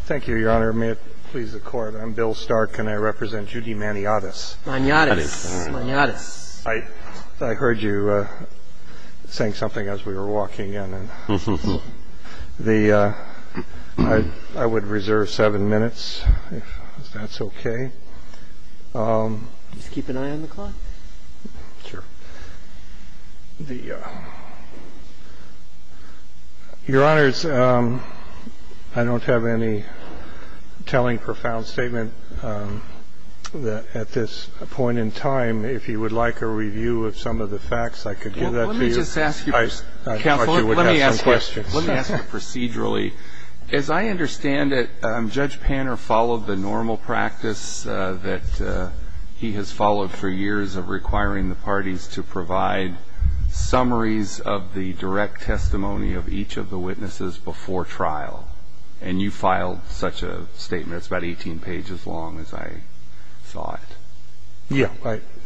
Thank you, Your Honor. May it please the Court, I'm Bill Stark and I represent Judy Maniates. Maniates. I heard you saying something as we were walking in. I would reserve seven minutes if that's okay. Just keep an eye on the clock? Sure. Your Honors, I don't have any telling profound statement at this point in time. If you would like a review of some of the facts, I could give that to you. Well, let me just ask you. I thought you would have some questions. Let me ask you procedurally. As I understand it, Judge Panner followed the normal practice that he has followed for years of requiring the parties to provide summaries of the direct testimony of each of the witnesses before trial. And you filed such a statement. It's about 18 pages long, as I thought. Yeah,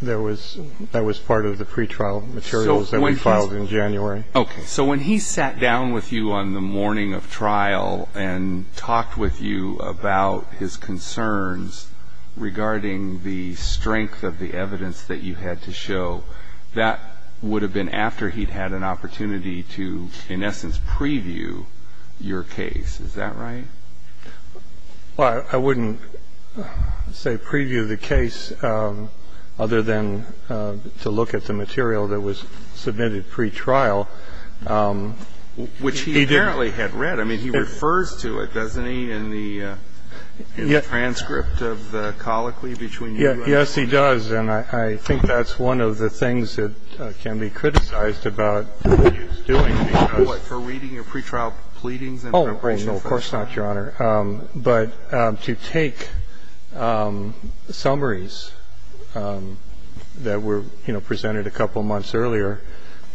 that was part of the pretrial materials that we filed in January. Okay. So when he sat down with you on the morning of trial and talked with you about his concerns regarding the strength of the evidence that you had to show, that would have been after he'd had an opportunity to, in essence, preview your case. Is that right? Well, I wouldn't say preview the case other than to look at the material that was submitted pretrial. Which he apparently had read. I mean, he refers to it, doesn't he, in the transcript of the colloquy between you and him? Yes, he does. And I think that's one of the things that can be criticized about what he was doing. What, for reading your pretrial pleadings? Oh, no, of course not, Your Honor. But to take summaries that were, you know, presented a couple months earlier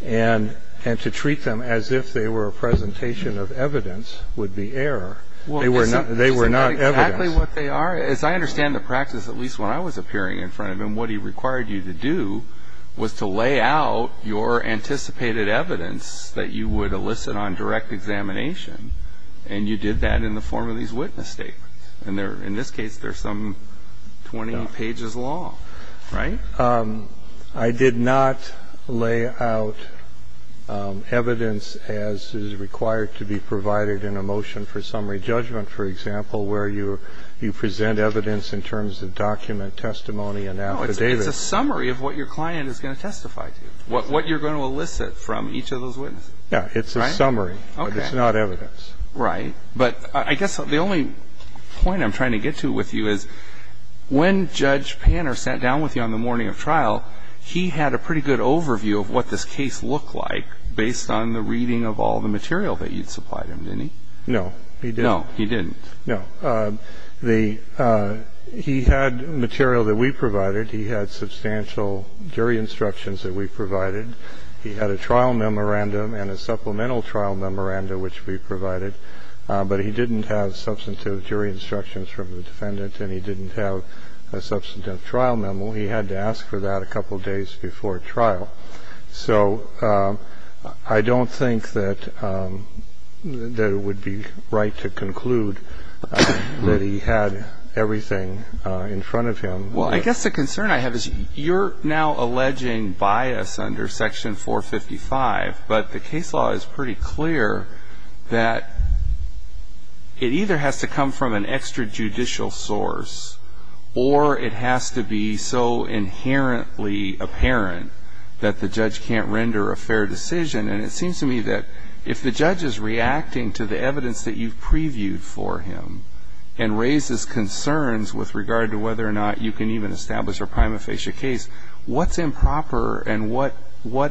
and to treat them as if they were a presentation of evidence would be error. They were not evidence. Well, isn't that exactly what they are? As I understand the practice, at least when I was appearing in front of him, what he required you to do was to lay out your anticipated evidence that you would elicit on direct examination, and you did that in the form of these witness statements. And in this case, they're some 20 pages long, right? I did not lay out evidence as is required to be provided in a motion for summary judgment, for example, where you present evidence in terms of document, testimony and affidavit. No. It's a summary of what your client is going to testify to, what you're going to elicit from each of those witnesses. Yeah. It's a summary. Okay. But it's not evidence. Right. But I guess the only point I'm trying to get to with you is, when Judge Panner sat down with you on the morning of trial, he had a pretty good overview of what this case looked like based on the reading of all the material that you'd supplied him, didn't he? No, he didn't. No, he didn't. No. He had material that we provided. He had substantial jury instructions that we provided. He had a trial memorandum and a supplemental trial memorandum, which we provided. But he didn't have substantive jury instructions from the defendant and he didn't have a substantive trial memo. He had to ask for that a couple of days before trial. So I don't think that it would be right to conclude that he had everything in front of him. Well, I guess the concern I have is you're now alleging bias under Section 455, but the case law is pretty clear that it either has to come from an extrajudicial source or it has to be so inherently apparent that the judge can't render a fair decision. And it seems to me that if the judge is reacting to the evidence that you've previewed for him and raises concerns with regard to whether or not you can even establish a prima facie case, what's improper and what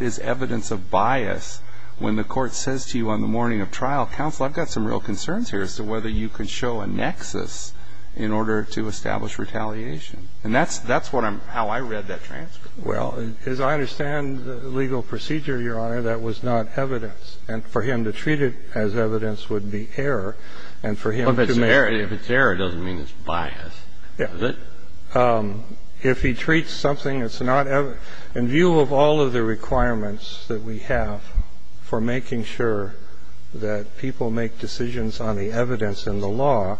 is evidence of bias when the court says to you on the morning of trial, counsel, I've got some real concerns here as to whether you can show a nexus in order to establish retaliation. And that's how I read that transcript. Well, as I understand the legal procedure, Your Honor, that was not evidence. And for him to treat it as evidence would be error. And for him to make it as evidence. If it's error, it doesn't mean it's bias, does it? If he treats something that's not ever – in view of all of the requirements that we have for making sure that people make decisions on the evidence in the law,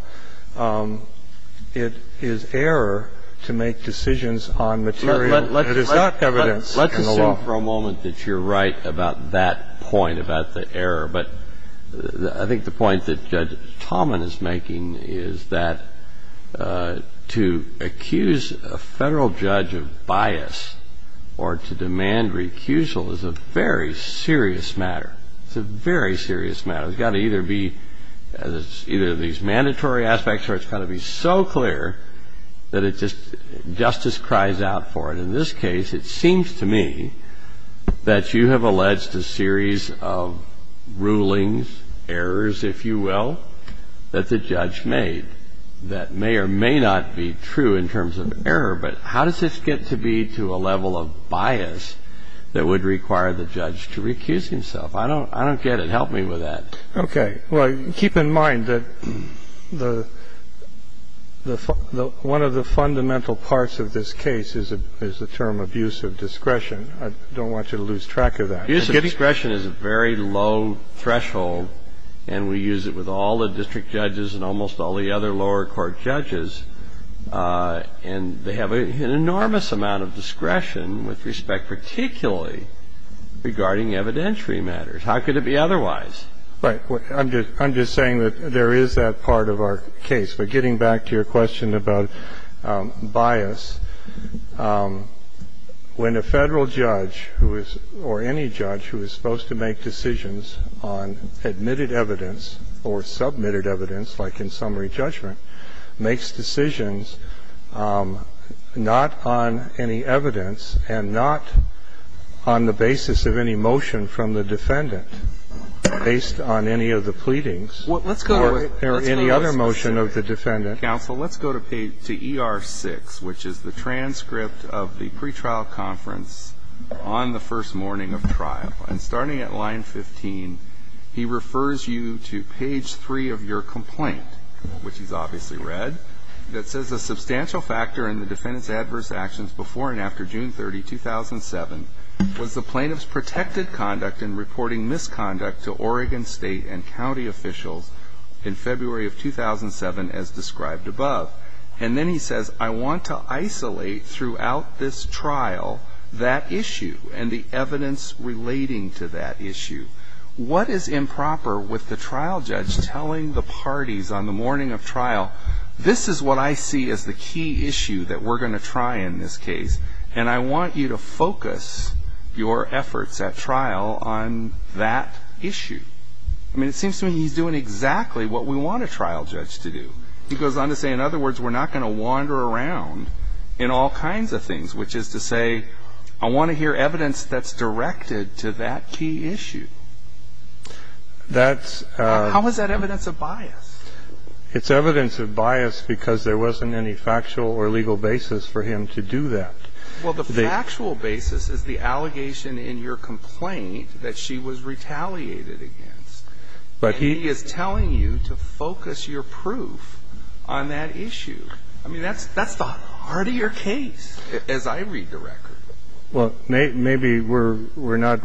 it is error to make decisions on material that is not evidence in the law. Let's assume for a moment that you're right about that point, about the error. But I think the point that Judge Tallman is making is that to accuse a federal judge of bias or to demand recusal is a very serious matter. It's a very serious matter. It's got to either be – it's either these mandatory aspects or it's got to be so clear that it just – justice cries out for it. And in this case, it seems to me that you have alleged a series of rulings, errors, if you will, that the judge made that may or may not be true in terms of error. But how does this get to be to a level of bias that would require the judge to recuse himself? I don't get it. Help me with that. Okay. Well, keep in mind that one of the fundamental parts of this case is the term abuse of discretion. I don't want you to lose track of that. Use of discretion is a very low threshold, and we use it with all the district judges and almost all the other lower court judges. And they have an enormous amount of discretion with respect particularly regarding evidentiary matters. How could it be otherwise? Right. I'm just saying that there is that part of our case. But getting back to your question about bias, when a Federal judge or any judge who is supposed to make decisions on admitted evidence or submitted evidence, like in summary judgment, makes decisions not on any evidence and not on the basis of any motion from the defendant, based on any of the pleadings or any other motion of the defendant. Counsel, let's go to page ER6, which is the transcript of the pretrial conference on the first morning of trial. And starting at line 15, he refers you to page 3 of your complaint, which he's obviously read, that says a substantial factor in the defendant's adverse actions before and after June 30, 2007, was the plaintiff's protected conduct in reporting misconduct to Oregon State and county officials in February of 2007, as described above. And then he says, I want to isolate throughout this trial that issue and the evidence relating to that issue. What is improper with the trial judge telling the parties on the morning of trial, this is what I see as the key issue that we're going to try in this case, and I want you to focus your efforts at trial on that issue? I mean, it seems to me he's doing exactly what we want a trial judge to do. He goes on to say, in other words, we're not going to wander around in all kinds of things, which is to say, I want to hear evidence that's directed to that key issue. How is that evidence of bias? It's evidence of bias because there wasn't any factual or legal basis for him to do that. Well, the factual basis is the allegation in your complaint that she was retaliated against. But he is telling you to focus your proof on that issue. I mean, that's the heart of your case, as I read the record. Well, maybe we're not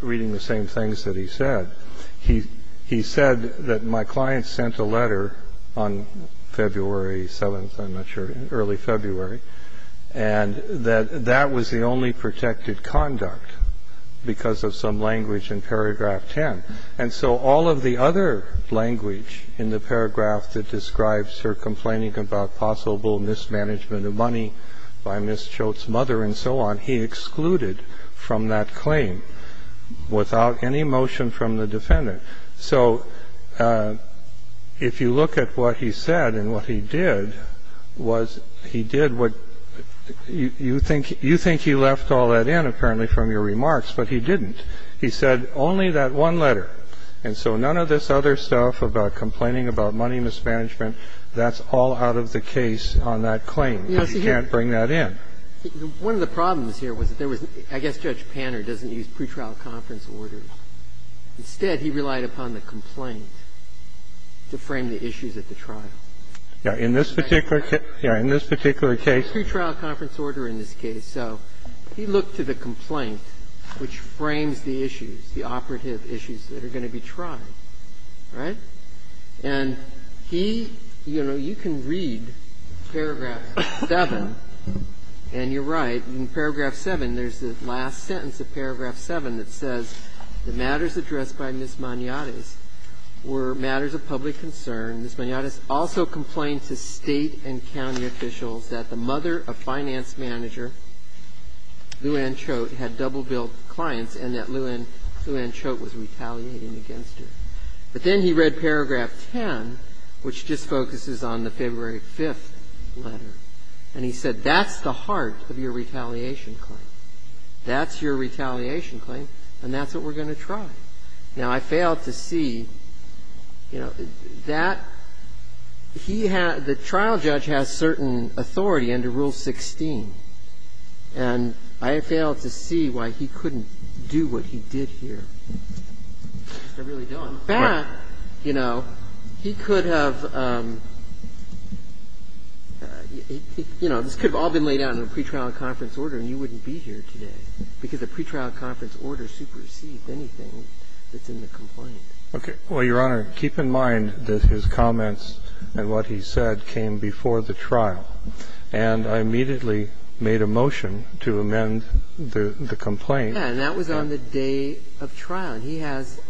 reading the same things that he said. He said that my client sent a letter on February 7th, I'm not sure, early February, and that that was the only protected conduct because of some language in paragraph 10. And so all of the other language in the paragraph that describes her complaining about possible mismanagement of money by Ms. Choate's mother and so on, he excluded from that claim without any motion from the defendant. So if you look at what he said and what he did, was he did what you think he left all that in, apparently, from your remarks, but he didn't. He said only that one letter. And so none of this other stuff about complaining about money mismanagement, that's all out of the case on that claim. He can't bring that in. Now, one of the problems here was that there was, I guess Judge Panner doesn't use pretrial conference orders. Instead, he relied upon the complaint to frame the issues at the trial. In this particular case. Yeah, in this particular case. There's no pretrial conference order in this case. So he looked to the complaint, which frames the issues, the operative issues that are going to be tried, right? And he, you know, you can read Paragraph 7, and you're right. In Paragraph 7, there's the last sentence of Paragraph 7 that says, the matters addressed by Ms. Maniatis were matters of public concern. Ms. Maniatis also complained to State and county officials that the mother of finance manager, Luann Choate, had double-billed clients and that Luann Choate was retaliating against her. But then he read Paragraph 10, which just focuses on the February 5th letter. And he said, that's the heart of your retaliation claim. That's your retaliation claim, and that's what we're going to try. Now, I failed to see, you know, that he had the trial judge has certain authority under Rule 16, and I failed to see why he couldn't do what he did here. I really don't. But, you know, he could have, you know, this could have all been laid out in a pretrial conference order, and you wouldn't be here today, because a pretrial conference order supersedes anything that's in the complaint. Okay. Well, Your Honor, keep in mind that his comments and what he said came before the trial, and I immediately made a motion to amend the complaint. And that was on the day of trial. And he has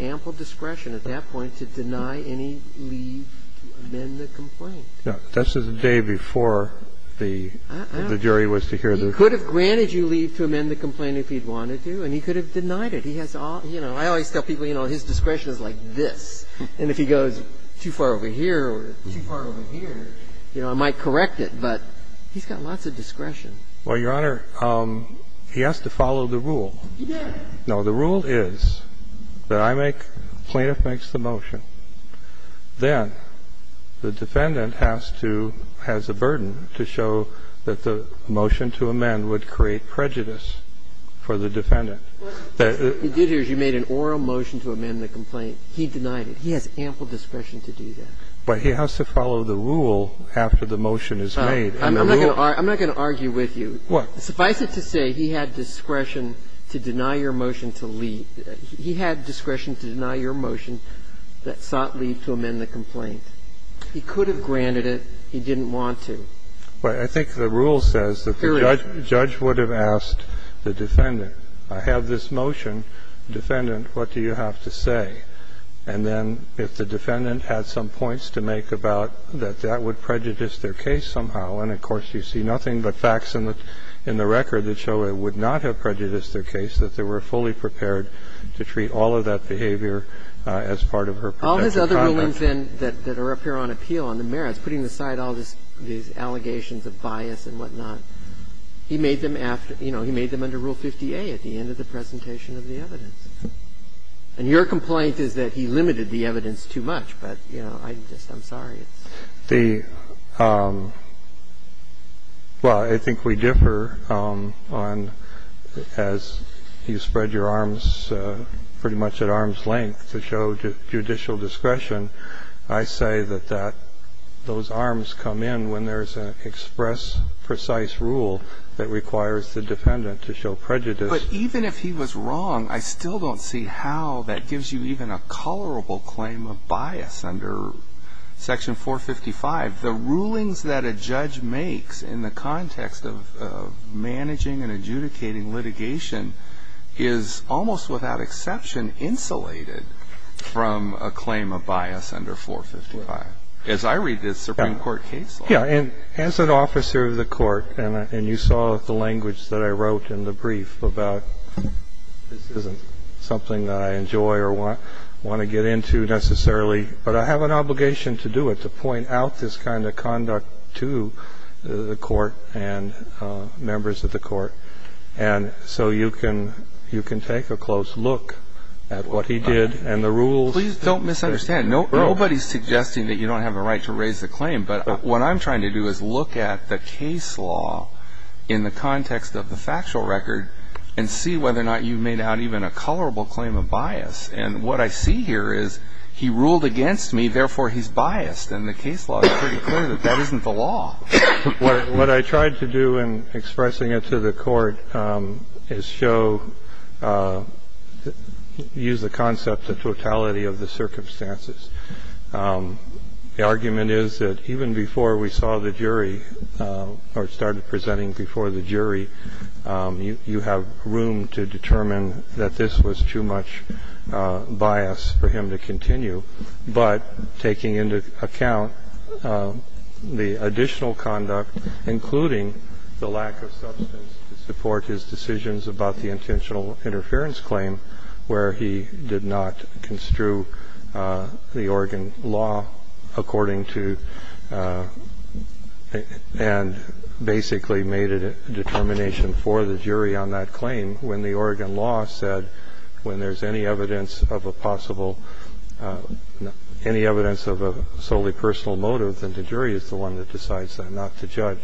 ample discretion at that point to deny any leave to amend the complaint. Yeah. That's the day before the jury was to hear the complaint. He could have granted you leave to amend the complaint if he'd wanted to, and he could have denied it. He has all the – you know, I always tell people, you know, his discretion is like this. And if he goes too far over here or too far over here, you know, I might correct But he's got lots of discretion. Well, Your Honor, he has to follow the rule. He did. No. The rule is that I make – the plaintiff makes the motion. Then the defendant has to – has a burden to show that the motion to amend would create prejudice for the defendant. What you did here is you made an oral motion to amend the complaint. He denied it. He has ample discretion to do that. But he has to follow the rule after the motion is made. I'm not going to argue with you. What? Suffice it to say he had discretion to deny your motion to leave. He had discretion to deny your motion that sought leave to amend the complaint. He could have granted it. He didn't want to. But I think the rule says that the judge would have asked the defendant, I have this motion. Defendant, what do you have to say? And then if the defendant had some points to make about that, that would prejudice their case somehow. And, of course, you see nothing but facts in the record that show it would not have prejudiced their case, that they were fully prepared to treat all of that behavior as part of her protective conduct. All his other rulings then that are up here on appeal on the merits, putting aside all these allegations of bias and whatnot, he made them after – you know, he made them under Rule 50A at the end of the presentation of the evidence. And your complaint is that he limited the evidence too much. But, you know, I'm just – I'm sorry. The – well, I think we differ on – as you spread your arms pretty much at arm's length to show judicial discretion. I say that that – those arms come in when there's an express, precise rule that requires the defendant to show prejudice. But even if he was wrong, I still don't see how that gives you even a colorable claim of bias under Section 455. The rulings that a judge makes in the context of managing and adjudicating litigation is almost without exception insulated from a claim of bias under 455, as I read this Supreme Court case law. Yeah. And as an officer of the court, and you saw the language that I wrote in the brief about, this isn't something that I enjoy or want to get into necessarily. But I have an obligation to do it, to point out this kind of conduct to the court and members of the court. And so you can – you can take a close look at what he did and the rules. Please don't misunderstand. Nobody's suggesting that you don't have a right to raise a claim. But what I'm trying to do is look at the case law in the context of the factual record and see whether or not you've made out even a colorable claim of bias. And what I see here is he ruled against me, therefore he's biased. And the case law is pretty clear that that isn't the law. What I tried to do in expressing it to the court is show – use the concept of totality of the circumstances. The argument is that even before we saw the jury or started presenting before the jury, you have room to determine that this was too much bias for him to continue, but taking into account the additional conduct, including the lack of substance to support his decisions about the intentional interference claim where he did not construe the Oregon law according to – and basically made a determination for the jury on that claim when the Oregon law said when there's any evidence of a possible – any evidence of a solely personal motive, then the jury is the one that decides not to judge.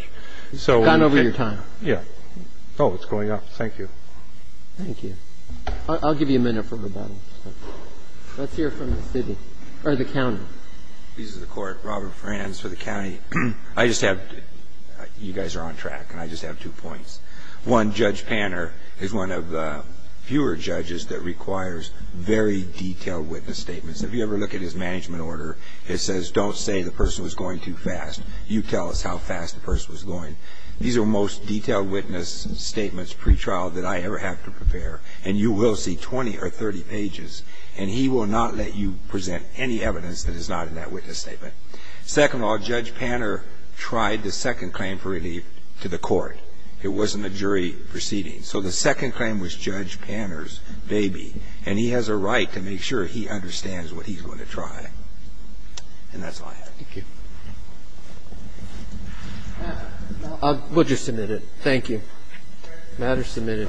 So we can – Got over your time. Yeah. Oh, it's going up. Thank you. Thank you. I'll give you a minute for rebuttal. Let's hear from the city or the county. Robert Franz for the county. I just have – you guys are on track, and I just have two points. One, Judge Panner is one of the fewer judges that requires very detailed witness statements. If you ever look at his management order, it says don't say the person was going too fast. You tell us how fast the person was going. These are most detailed witness statements pretrial that I ever have to prepare, and you will see 20 or 30 pages, and he will not let you present any evidence that is not in that witness statement. Second of all, Judge Panner tried the second claim for relief to the court. It wasn't a jury proceeding. So the second claim was Judge Panner's baby, and he has a right to make sure he understands what he's going to try. And that's all I have. Thank you. We'll just submit it. Thank you. The matter is submitted.